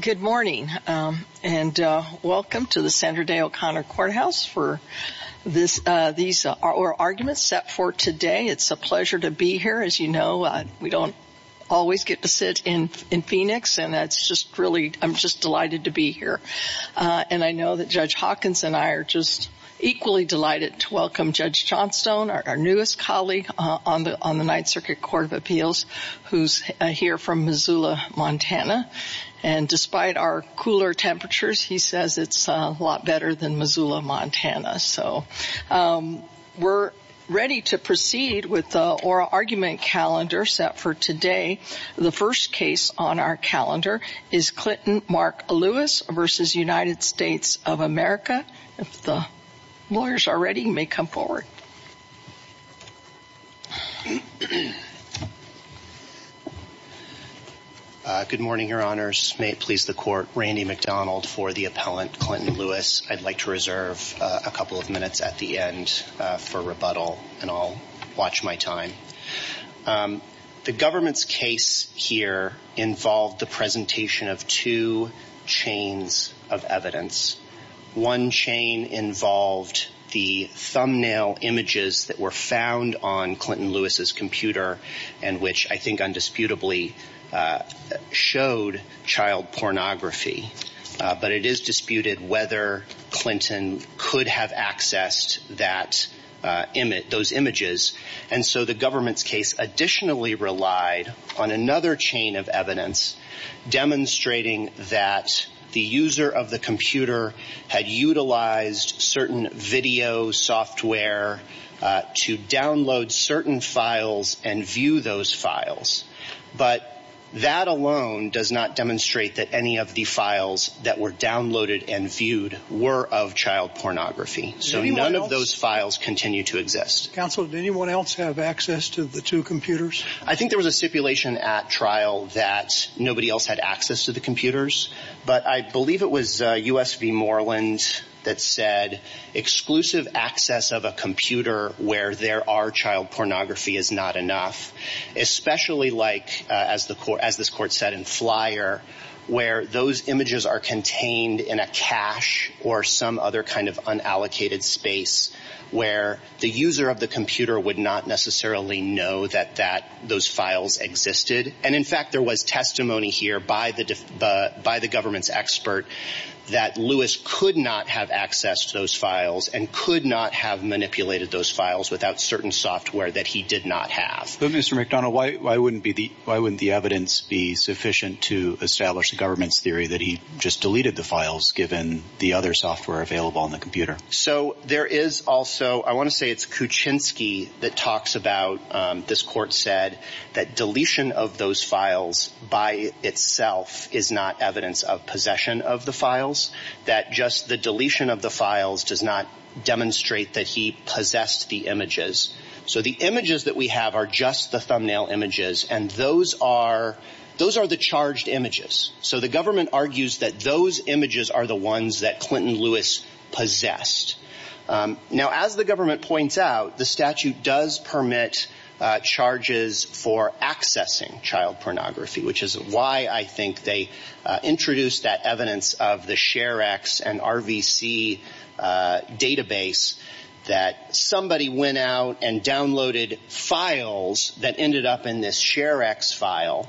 Good morning, and welcome to the Sandra Day O'Connor Courthouse for these arguments set for today. It's a pleasure to be here. As you know, we don't always get to sit in Phoenix, and I'm just delighted to be here. And I know that Judge Hawkins and I are just equally delighted to welcome Judge Johnstone, our newest colleague on the Ninth Circuit Court of Appeals, who's here from Missoula, Montana. And despite our cooler temperatures, he says it's a lot better than Missoula, Montana. So we're ready to proceed with the oral argument calendar set for today. The first case on our calendar is Clinton Mark Lewis v. United States of America. If the lawyers are ready, you may come forward. Good morning, Your Honors. May it please the Court, Randy McDonald for the appellant, Clinton Lewis. I'd like to reserve a couple of minutes at the end for rebuttal, and I'll watch my time. The government's case here involved the presentation of two chains of evidence. One chain involved the thumbnail images that were found on Clinton Lewis's computer, and which I think undisputably showed child pornography. But it is disputed whether Clinton could have accessed those images. And so the government's case additionally relied on another chain of evidence demonstrating that the user of the computer had utilized certain video software to download certain files and view those files. But that alone does not demonstrate that any of the files that were downloaded and viewed were of child pornography. So none of those files continue to exist. Counsel, did anyone else have access to the two computers? I think there was a stipulation at trial that nobody else had access to the computers. But I believe it was U.S. v. Moreland that said exclusive access of a computer where there are child pornography is not enough. Especially like, as this court said in Flyer, where those images are contained in a cache or some other kind of unallocated space where the user of the computer would not necessarily know that those files existed. And in fact, there was testimony here by the government's expert that Lewis could not have access to those files and could not have manipulated those files without certain software that he did not have. But Mr. McDonough, why wouldn't the evidence be sufficient to establish the government's theory that he just deleted the files given the other software available on the computer? So there is also, I want to say it's Kuczynski that talks about, this court said, that deletion of those files by itself is not evidence of possession of the files. That just the deletion of the files does not demonstrate that he possessed the images. So the images that we have are just the thumbnail images and those are the charged images. So the government argues that those images are the ones that Clinton Lewis possessed. Now, as the government points out, the statute does permit charges for accessing child pornography, which is why I think they introduced that evidence of the ShareX and RVC database that somebody went out and downloaded files that ended up in this ShareX file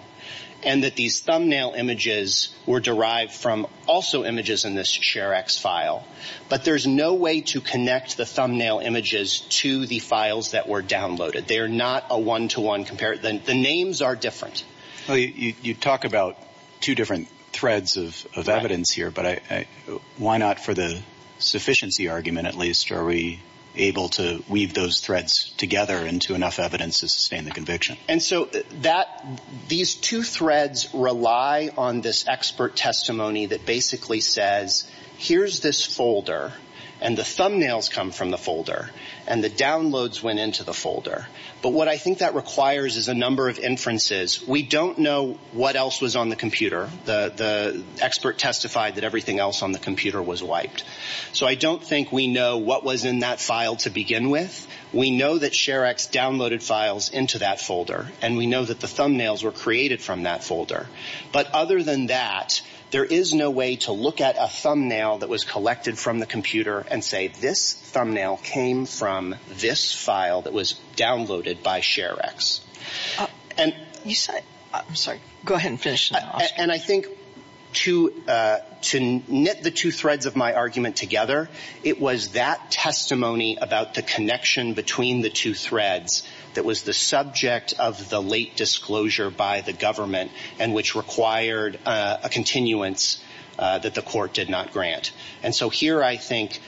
and that these thumbnail images were derived from also images in this ShareX file. But there is no way to connect the thumbnail images to the files that were downloaded. They are not a one-to-one comparison. The names are different. Well, you talk about two different threads of evidence here, but why not for the sufficiency argument at least are we able to weave those threads together into enough evidence to sustain the conviction? And so that – these two threads rely on this expert testimony that basically says here's this folder and the thumbnails come from the folder and the downloads went into the folder. But what I think that requires is a number of inferences. We don't know what else was on the computer. The expert testified that everything else on the computer was wiped. So I don't think we know what was in that file to begin with. We know that ShareX downloaded files into that folder and we know that the thumbnails were created from that folder. But other than that, there is no way to look at a thumbnail that was collected from the computer and say this thumbnail came from this file that was downloaded by ShareX. I'm sorry. Go ahead and finish. And I think to knit the two threads of my argument together, it was that testimony about the connection between the two threads that was the subject of the late disclosure by the government and which required a continuance that the court did not grant. And so here I think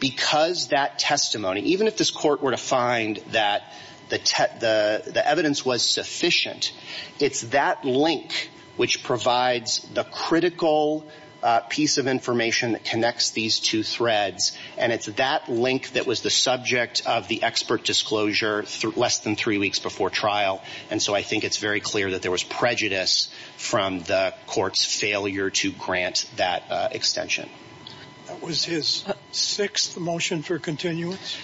because that testimony, even if this court were to find that the evidence was sufficient, it's that link which provides the critical piece of information that connects these two threads and it's that link that was the subject of the expert disclosure less than three weeks before trial. And so I think it's very clear that there was prejudice from the court's failure to grant that extension. Was his sixth motion for continuance?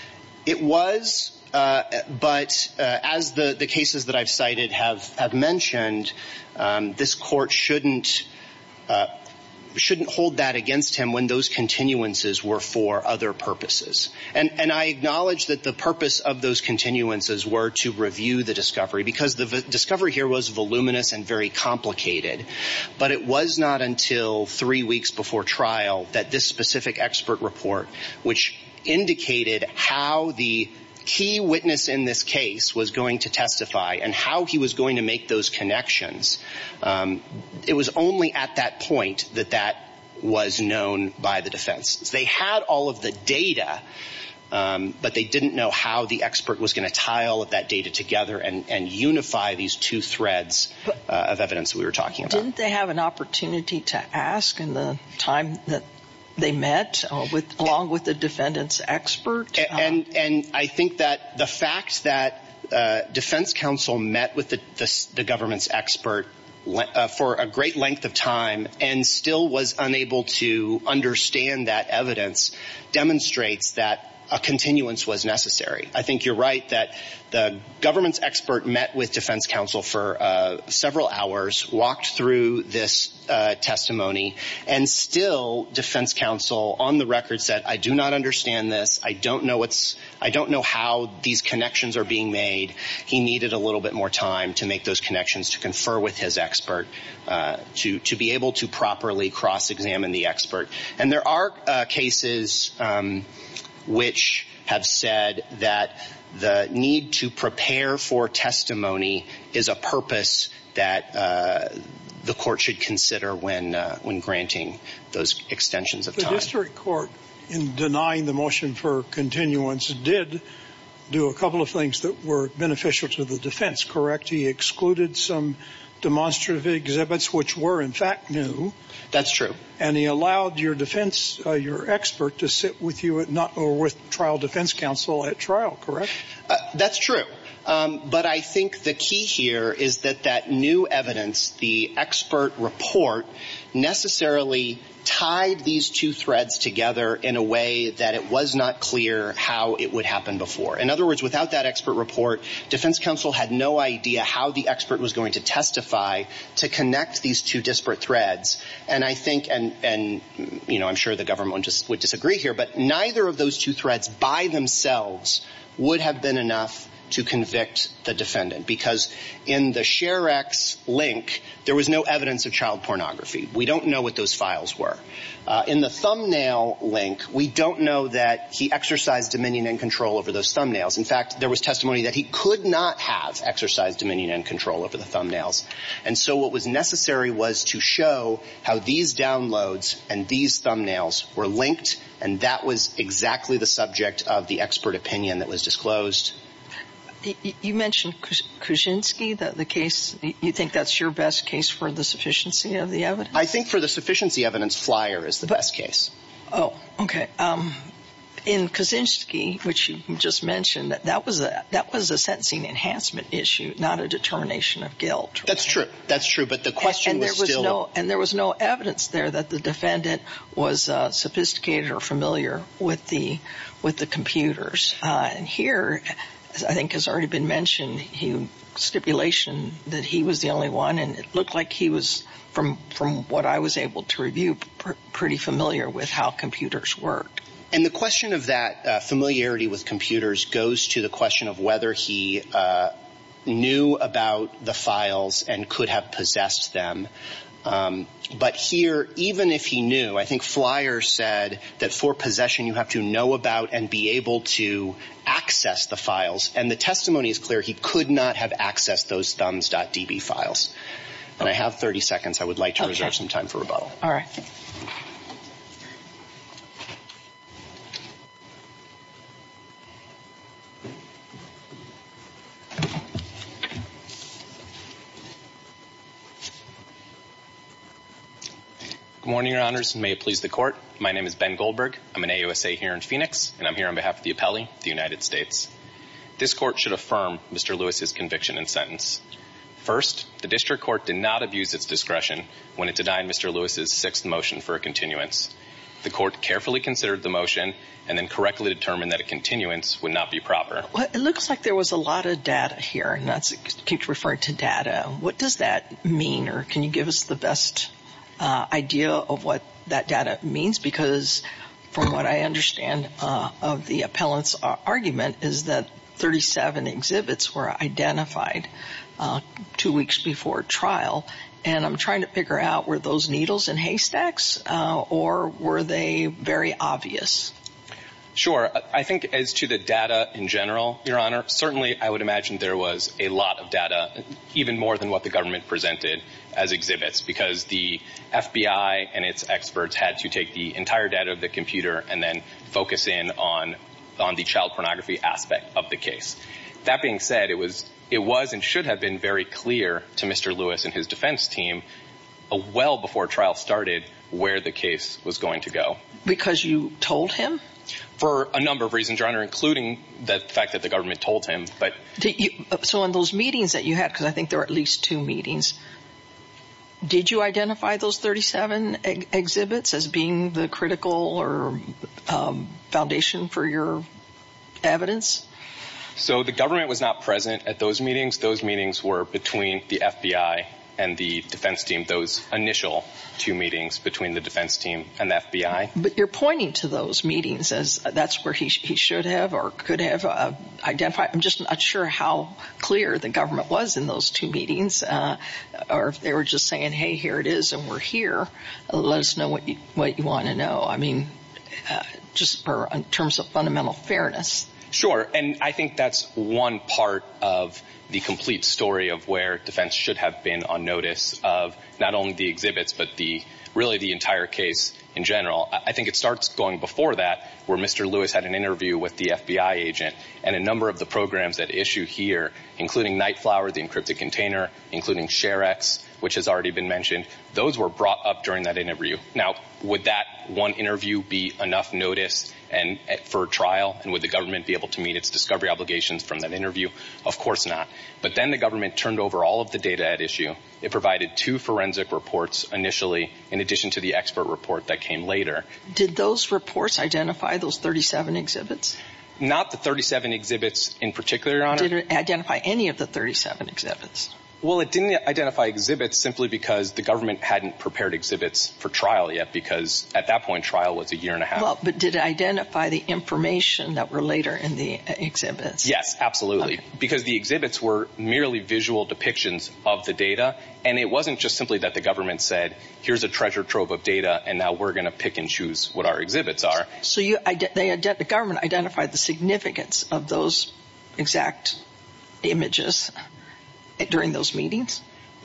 It was, but as the cases that I've cited have mentioned, this court shouldn't hold that against him when those continuances were for other purposes. And I acknowledge that the purpose of those continuances were to review the discovery because the discovery here was voluminous and very complicated. But it was not until three weeks before trial that this specific expert report, which indicated how the key witness in this case was going to testify and how he was going to make those connections. It was only at that point that that was known by the defense. They had all of the data, but they didn't know how the expert was going to tie all of that data together and unify these two threads of evidence we were talking about. Didn't they have an opportunity to ask in the time that they met along with the defendant's expert? And I think that the fact that defense counsel met with the government's expert for a great length of time and still was unable to understand that evidence demonstrates that a continuance was necessary. I think you're right that the government's expert met with defense counsel for several hours, walked through this testimony. And still defense counsel on the record said, I do not understand this. I don't know how these connections are being made. He needed a little bit more time to make those connections, to confer with his expert, to be able to properly cross-examine the expert. And there are cases which have said that the need to prepare for testimony is a purpose that the court should consider when granting those extensions of time. The district court, in denying the motion for continuance, did do a couple of things that were beneficial to the defense, correct? He excluded some demonstrative exhibits, which were in fact new. That's true. And he allowed your defense, your expert, to sit with you or with trial defense counsel at trial, correct? That's true. But I think the key here is that that new evidence, the expert report, necessarily tied these two threads together in a way that it was not clear how it would happen before. In other words, without that expert report, defense counsel had no idea how the expert was going to testify to connect these two disparate threads. And I think, and I'm sure the government would disagree here, but neither of those two threads by themselves would have been enough to convict the defendant. Because in the Share-X link, there was no evidence of child pornography. We don't know what those files were. In the thumbnail link, we don't know that he exercised dominion and control over those thumbnails. In fact, there was testimony that he could not have exercised dominion and control over the thumbnails. And so what was necessary was to show how these downloads and these thumbnails were linked, and that was exactly the subject of the expert opinion that was disclosed. You mentioned Kuczynski, the case. You think that's your best case for the sufficiency of the evidence? I think for the sufficiency evidence, Flyer is the best case. Oh, okay. In Kuczynski, which you just mentioned, that was a sentencing enhancement issue, not a determination of guilt. That's true. That's true. But the question was still— And there was no evidence there that the defendant was sophisticated or familiar with the computers. And here, I think has already been mentioned, stipulation that he was the only one, and it looked like he was, from what I was able to review, pretty familiar with how computers work. And the question of that familiarity with computers goes to the question of whether he knew about the files and could have possessed them. But here, even if he knew, I think Flyer said that for possession, you have to know about and be able to access the files. And the testimony is clear. He could not have accessed those thumbs.db files. And I have 30 seconds. I would like to reserve some time for rebuttal. All right. Good morning, Your Honors, and may it please the Court. My name is Ben Goldberg. I'm an AUSA here in Phoenix, and I'm here on behalf of the appellee, the United States. This Court should affirm Mr. Lewis's conviction and sentence. First, the District Court did not abuse its discretion when it denied Mr. Lewis's sixth motion for a continuance. The Court carefully considered the motion and then correctly determined that a continuance would not be proper. It looks like there was a lot of data here, and that's referred to data. What does that mean, or can you give us the best idea of what that data means? Because from what I understand of the appellant's argument is that 37 exhibits were identified two weeks before trial. And I'm trying to figure out, were those needles and haystacks, or were they very obvious? Sure. I think as to the data in general, Your Honor, certainly I would imagine there was a lot of data, even more than what the government presented as exhibits, because the FBI and its experts had to take the entire data of the computer and then focus in on the child pornography aspect of the case. That being said, it was and should have been very clear to Mr. Lewis and his defense team well before trial started where the case was going to go. Because you told him? For a number of reasons, Your Honor, including the fact that the government told him. So in those meetings that you had, because I think there were at least two meetings, did you identify those 37 exhibits as being the critical foundation for your evidence? So the government was not present at those meetings. Those meetings were between the FBI and the defense team, those initial two meetings between the defense team and the FBI. But you're pointing to those meetings as that's where he should have or could have identified. I'm just not sure how clear the government was in those two meetings, or if they were just saying, hey, here it is and we're here. Let us know what you want to know, I mean, just in terms of fundamental fairness. Sure, and I think that's one part of the complete story of where defense should have been on notice of not only the exhibits, but really the entire case in general. I think it starts going before that where Mr. Lewis had an interview with the FBI agent and a number of the programs that issue here, including Nightflower, the encrypted container, including ShareX, which has already been mentioned. Those were brought up during that interview. Now, would that one interview be enough notice for a trial, and would the government be able to meet its discovery obligations from that interview? Of course not. But then the government turned over all of the data at issue. It provided two forensic reports initially, in addition to the expert report that came later. Did those reports identify those 37 exhibits? Not the 37 exhibits in particular, Your Honor. Did it identify any of the 37 exhibits? Well, it didn't identify exhibits simply because the government hadn't prepared exhibits for trial yet, because at that point trial was a year and a half. But did it identify the information that were later in the exhibits? Yes, absolutely, because the exhibits were merely visual depictions of the data, and it wasn't just simply that the government said, here's a treasure trove of data, and now we're going to pick and choose what our exhibits are. So the government identified the significance of those exact images during those meetings?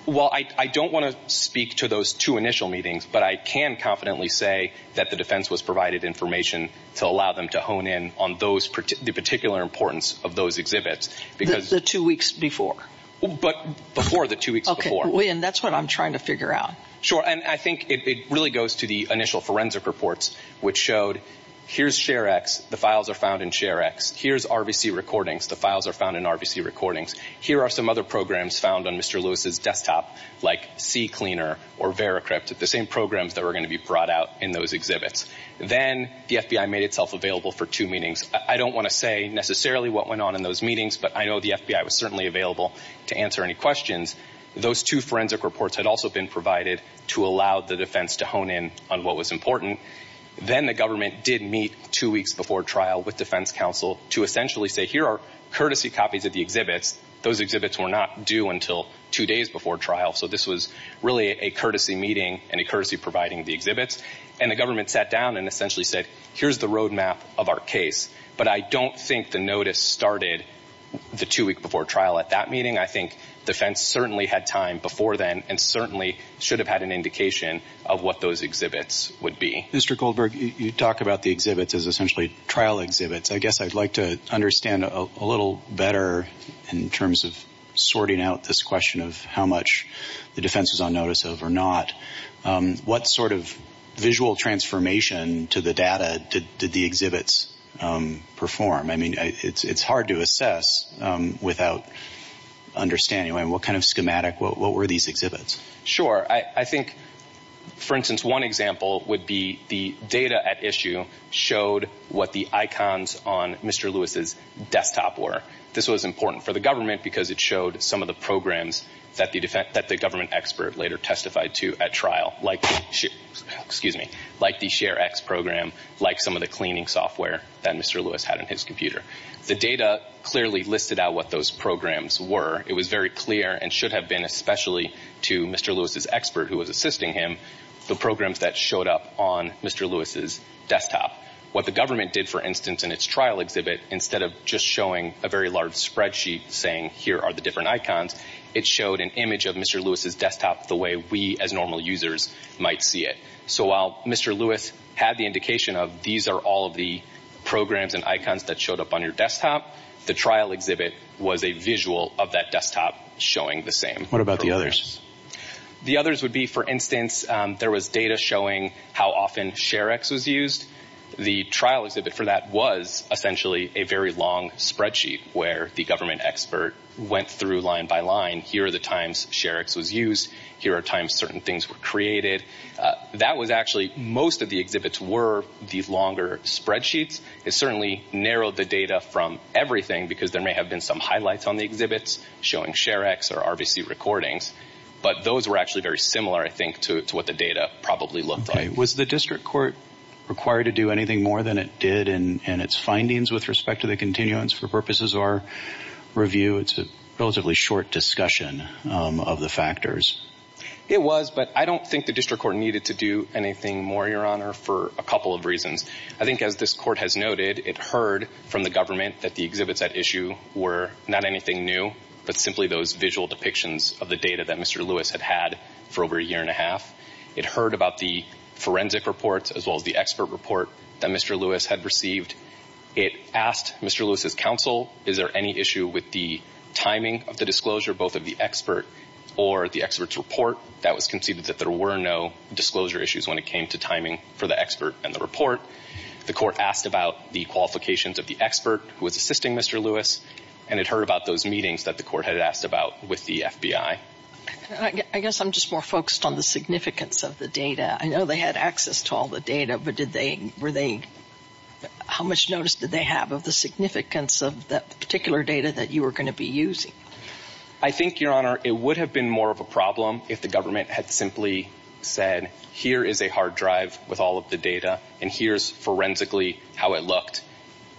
Well, I don't want to speak to those two initial meetings, but I can confidently say that the defense was provided information to allow them to hone in on the particular importance of those exhibits. The two weeks before? Before the two weeks before. Okay, and that's what I'm trying to figure out. Sure, and I think it really goes to the initial forensic reports, which showed, here's SHARE-X, the files are found in SHARE-X. Here's RVC recordings, the files are found in RVC recordings. Here are some other programs found on Mr. Lewis' desktop, like CCleaner or VeraCrypt, the same programs that were going to be brought out in those exhibits. Then the FBI made itself available for two meetings. I don't want to say necessarily what went on in those meetings, but I know the FBI was certainly available to answer any questions. Those two forensic reports had also been provided to allow the defense to hone in on what was important. Then the government did meet two weeks before trial with defense counsel to essentially say, here are courtesy copies of the exhibits. Those exhibits were not due until two days before trial, so this was really a courtesy meeting and a courtesy providing of the exhibits. And the government sat down and essentially said, here's the roadmap of our case. But I don't think the notice started the two weeks before trial at that meeting. I think defense certainly had time before then and certainly should have had an indication of what those exhibits would be. Mr. Goldberg, you talk about the exhibits as essentially trial exhibits. I guess I'd like to understand a little better in terms of sorting out this question of how much the defense was on notice of or not. What sort of visual transformation to the data did the exhibits perform? I mean, it's hard to assess without understanding. What kind of schematic, what were these exhibits? Sure. I think, for instance, one example would be the data at issue showed what the icons on Mr. Lewis' desktop were. This was important for the government because it showed some of the programs that the government expert later testified to at trial, like the ShareX program, like some of the cleaning software that Mr. Lewis had on his computer. The data clearly listed out what those programs were. It was very clear and should have been, especially to Mr. Lewis' expert who was assisting him, the programs that showed up on Mr. Lewis' desktop. What the government did, for instance, in its trial exhibit, instead of just showing a very large spreadsheet saying here are the different icons, it showed an image of Mr. Lewis' desktop the way we as normal users might see it. So while Mr. Lewis had the indication of these are all of the programs and icons that showed up on your desktop, the trial exhibit was a visual of that desktop showing the same. What about the others? The others would be, for instance, there was data showing how often ShareX was used. The trial exhibit for that was essentially a very long spreadsheet where the government expert went through line by line. Here are the times ShareX was used. Here are times certain things were created. That was actually most of the exhibits were these longer spreadsheets. It certainly narrowed the data from everything because there may have been some highlights on the exhibits showing ShareX or RBC recordings, but those were actually very similar, I think, to what the data probably looked like. Was the district court required to do anything more than it did in its findings with respect to the continuance for purposes of our review? It's a relatively short discussion of the factors. It was, but I don't think the district court needed to do anything more, Your Honor, for a couple of reasons. I think as this court has noted, it heard from the government that the exhibits at issue were not anything new, but simply those visual depictions of the data that Mr. Lewis had had for over a year and a half. It heard about the forensic reports as well as the expert report that Mr. Lewis had received. It asked Mr. Lewis' counsel, is there any issue with the timing of the disclosure, both of the expert or the expert's report? That was conceded that there were no disclosure issues when it came to timing for the expert and the report. The court asked about the qualifications of the expert who was assisting Mr. Lewis, and it heard about those meetings that the court had asked about with the FBI. I guess I'm just more focused on the significance of the data. I know they had access to all the data, but did they, were they, how much notice did they have of the significance of that particular data that you were going to be using? I think, Your Honor, it would have been more of a problem if the government had simply said, here is a hard drive with all of the data, and here's forensically how it looked.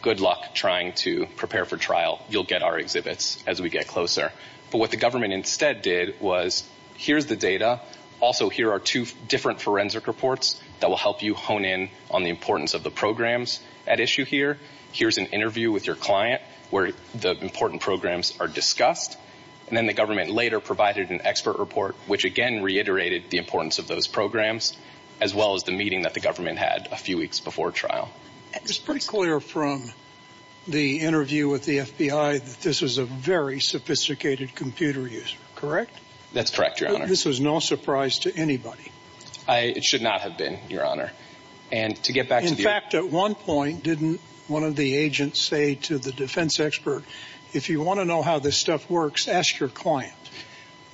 Good luck trying to prepare for trial. You'll get our exhibits as we get closer. But what the government instead did was, here's the data. Also, here are two different forensic reports that will help you hone in on the importance of the programs at issue here. Here's an interview with your client where the important programs are discussed. And then the government later provided an expert report, which again reiterated the importance of those programs, as well as the meeting that the government had a few weeks before trial. It's pretty clear from the interview with the FBI that this was a very sophisticated computer user, correct? That's correct, Your Honor. This was no surprise to anybody. It should not have been, Your Honor. In fact, at one point, didn't one of the agents say to the defense expert, if you want to know how this stuff works, ask your client?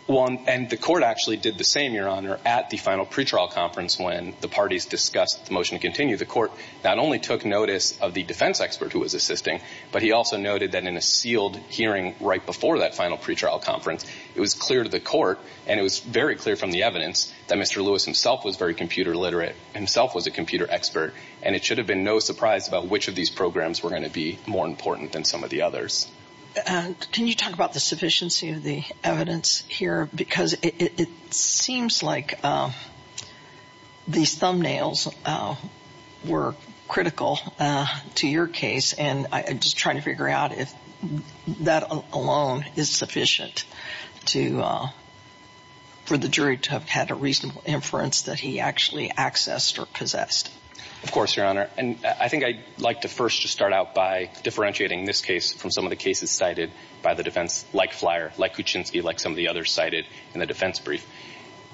And the court actually did the same, Your Honor, at the final pretrial conference when the parties discussed the motion to continue. The court not only took notice of the defense expert who was assisting, but he also noted that in a sealed hearing right before that final pretrial conference, it was clear to the court, and it was very clear from the evidence, that Mr. Lewis himself was very computer literate, himself was a computer expert, and it should have been no surprise about which of these programs were going to be more important than some of the others. Can you talk about the sufficiency of the evidence here? Because it seems like these thumbnails were critical to your case, and I'm just trying to figure out if that alone is sufficient for the jury to have had a reasonable inference that he actually accessed or possessed. Of course, Your Honor. And I think I'd like to first just start out by differentiating this case from some of the cases cited by the defense, like Flyer, like Kuczynski, like some of the others cited in the defense brief.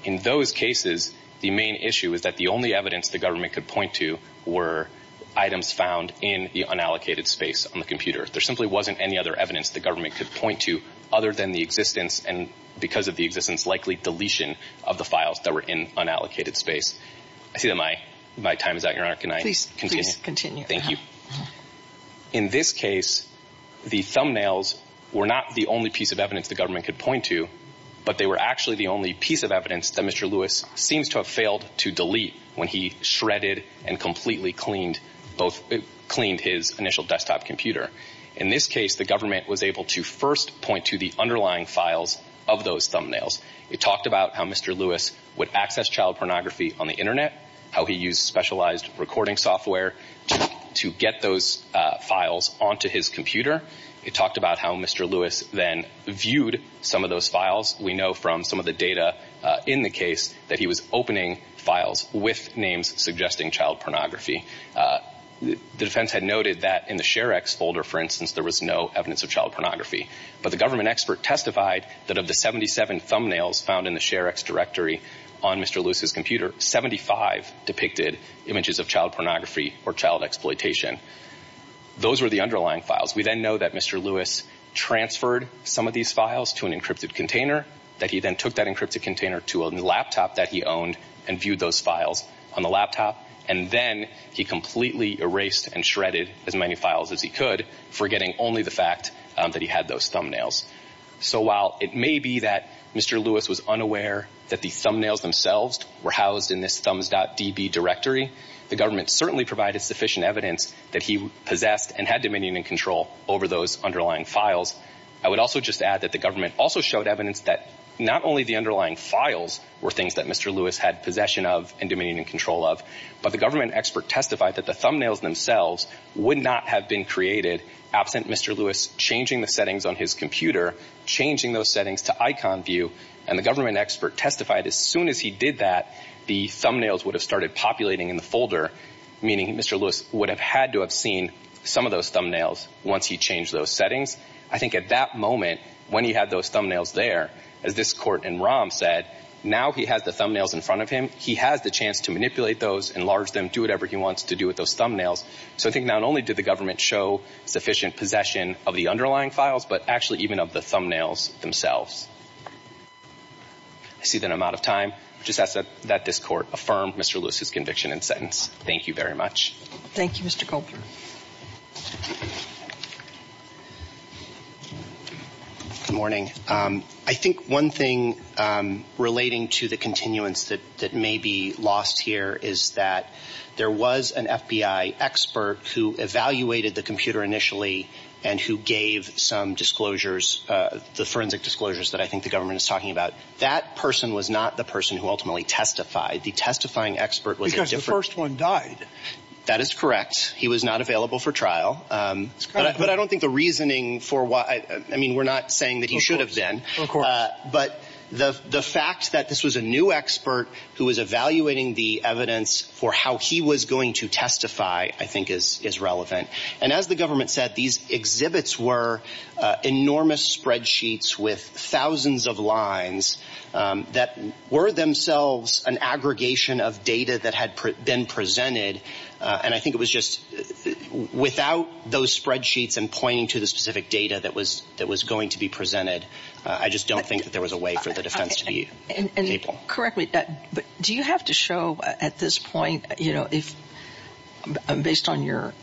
In those cases, the main issue is that the only evidence the government could point to were items found in the unallocated space on the computer. There simply wasn't any other evidence the government could point to other than the existence, and because of the existence, likely deletion of the files that were in unallocated space. I see that my time is out, Your Honor. Please continue. Thank you. In this case, the thumbnails were not the only piece of evidence the government could point to, but they were actually the only piece of evidence that Mr. Lewis seems to have failed to delete when he shredded and completely cleaned his initial desktop computer. In this case, the government was able to first point to the underlying files of those thumbnails. It talked about how Mr. Lewis would access child pornography on the Internet, how he used specialized recording software to get those files onto his computer. It talked about how Mr. Lewis then viewed some of those files. We know from some of the data in the case that he was opening files with names suggesting child pornography. The defense had noted that in the ShareX folder, for instance, there was no evidence of child pornography, but the government expert testified that of the 77 thumbnails found in the ShareX directory on Mr. Lewis's computer, 75 depicted images of child pornography or child exploitation. Those were the underlying files. We then know that Mr. Lewis transferred some of these files to an encrypted container, that he then took that encrypted container to a laptop that he owned and viewed those files on the laptop, and then he completely erased and shredded as many files as he could, forgetting only the fact that he had those thumbnails. So while it may be that Mr. Lewis was unaware that the thumbnails themselves were housed in this thumbs.db directory, the government certainly provided sufficient evidence that he possessed and had dominion and control over those underlying files. I would also just add that the government also showed evidence that not only the underlying files were things that Mr. Lewis had possession of and dominion and control of, but the government expert testified that the thumbnails themselves would not have been created absent Mr. Lewis changing the settings on his computer, changing those settings to icon view, and the government expert testified as soon as he did that, the thumbnails would have started populating in the folder, meaning Mr. Lewis would have had to have seen some of those thumbnails once he changed those settings. I think at that moment, when he had those thumbnails there, as this court in ROM said, now he has the thumbnails in front of him. He has the chance to manipulate those, enlarge them, do whatever he wants to do with those thumbnails. So I think not only did the government show sufficient possession of the underlying files, but actually even of the thumbnails themselves. I see that I'm out of time. I just ask that this court affirm Mr. Lewis's conviction and sentence. Thank you very much. Thank you, Mr. Colburn. Good morning. I think one thing relating to the continuance that may be lost here is that there was an FBI expert who evaluated the computer initially and who gave some disclosures, the forensic disclosures that I think the government is talking about. That person was not the person who ultimately testified. The testifying expert was a different person. Because the first one died. That is correct. He was not available for trial. But I don't think the reasoning for why, I mean, we're not saying that he should have been. Of course. But the fact that this was a new expert who was evaluating the evidence for how he was going to testify I think is relevant. And as the government said, these exhibits were enormous spreadsheets with thousands of lines that were themselves an aggregation of data that had been presented. And I think it was just without those spreadsheets and pointing to the specific data that was going to be presented, I just don't think that there was a way for the defense to be capable. Correct me. But do you have to show at this point, you know, based on your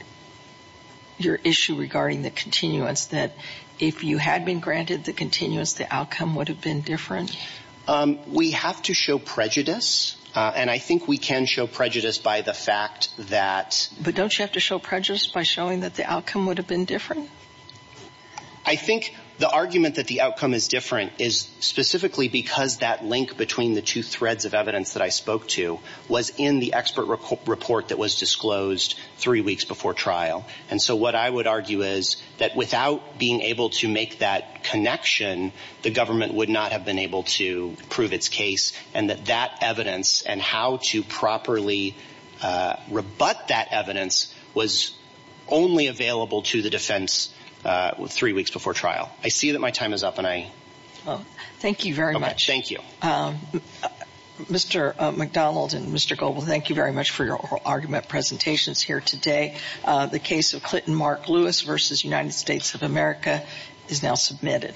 issue regarding the continuance, that if you had been granted the continuance, the outcome would have been different? We have to show prejudice. And I think we can show prejudice by the fact that. But don't you have to show prejudice by showing that the outcome would have been different? I think the argument that the outcome is different is specifically because that link between the two threads of evidence that I spoke to was in the expert report that was disclosed three weeks before trial. And so what I would argue is that without being able to make that connection, the government would not have been able to prove its case, and that that evidence and how to properly rebut that evidence was only available to the defense three weeks before trial. I see that my time is up, and I. Thank you very much. Thank you. Mr. McDonald and Mr. Goble, thank you very much for your argument presentations here today. The case of Clinton Mark Lewis v. United States of America is now submitted.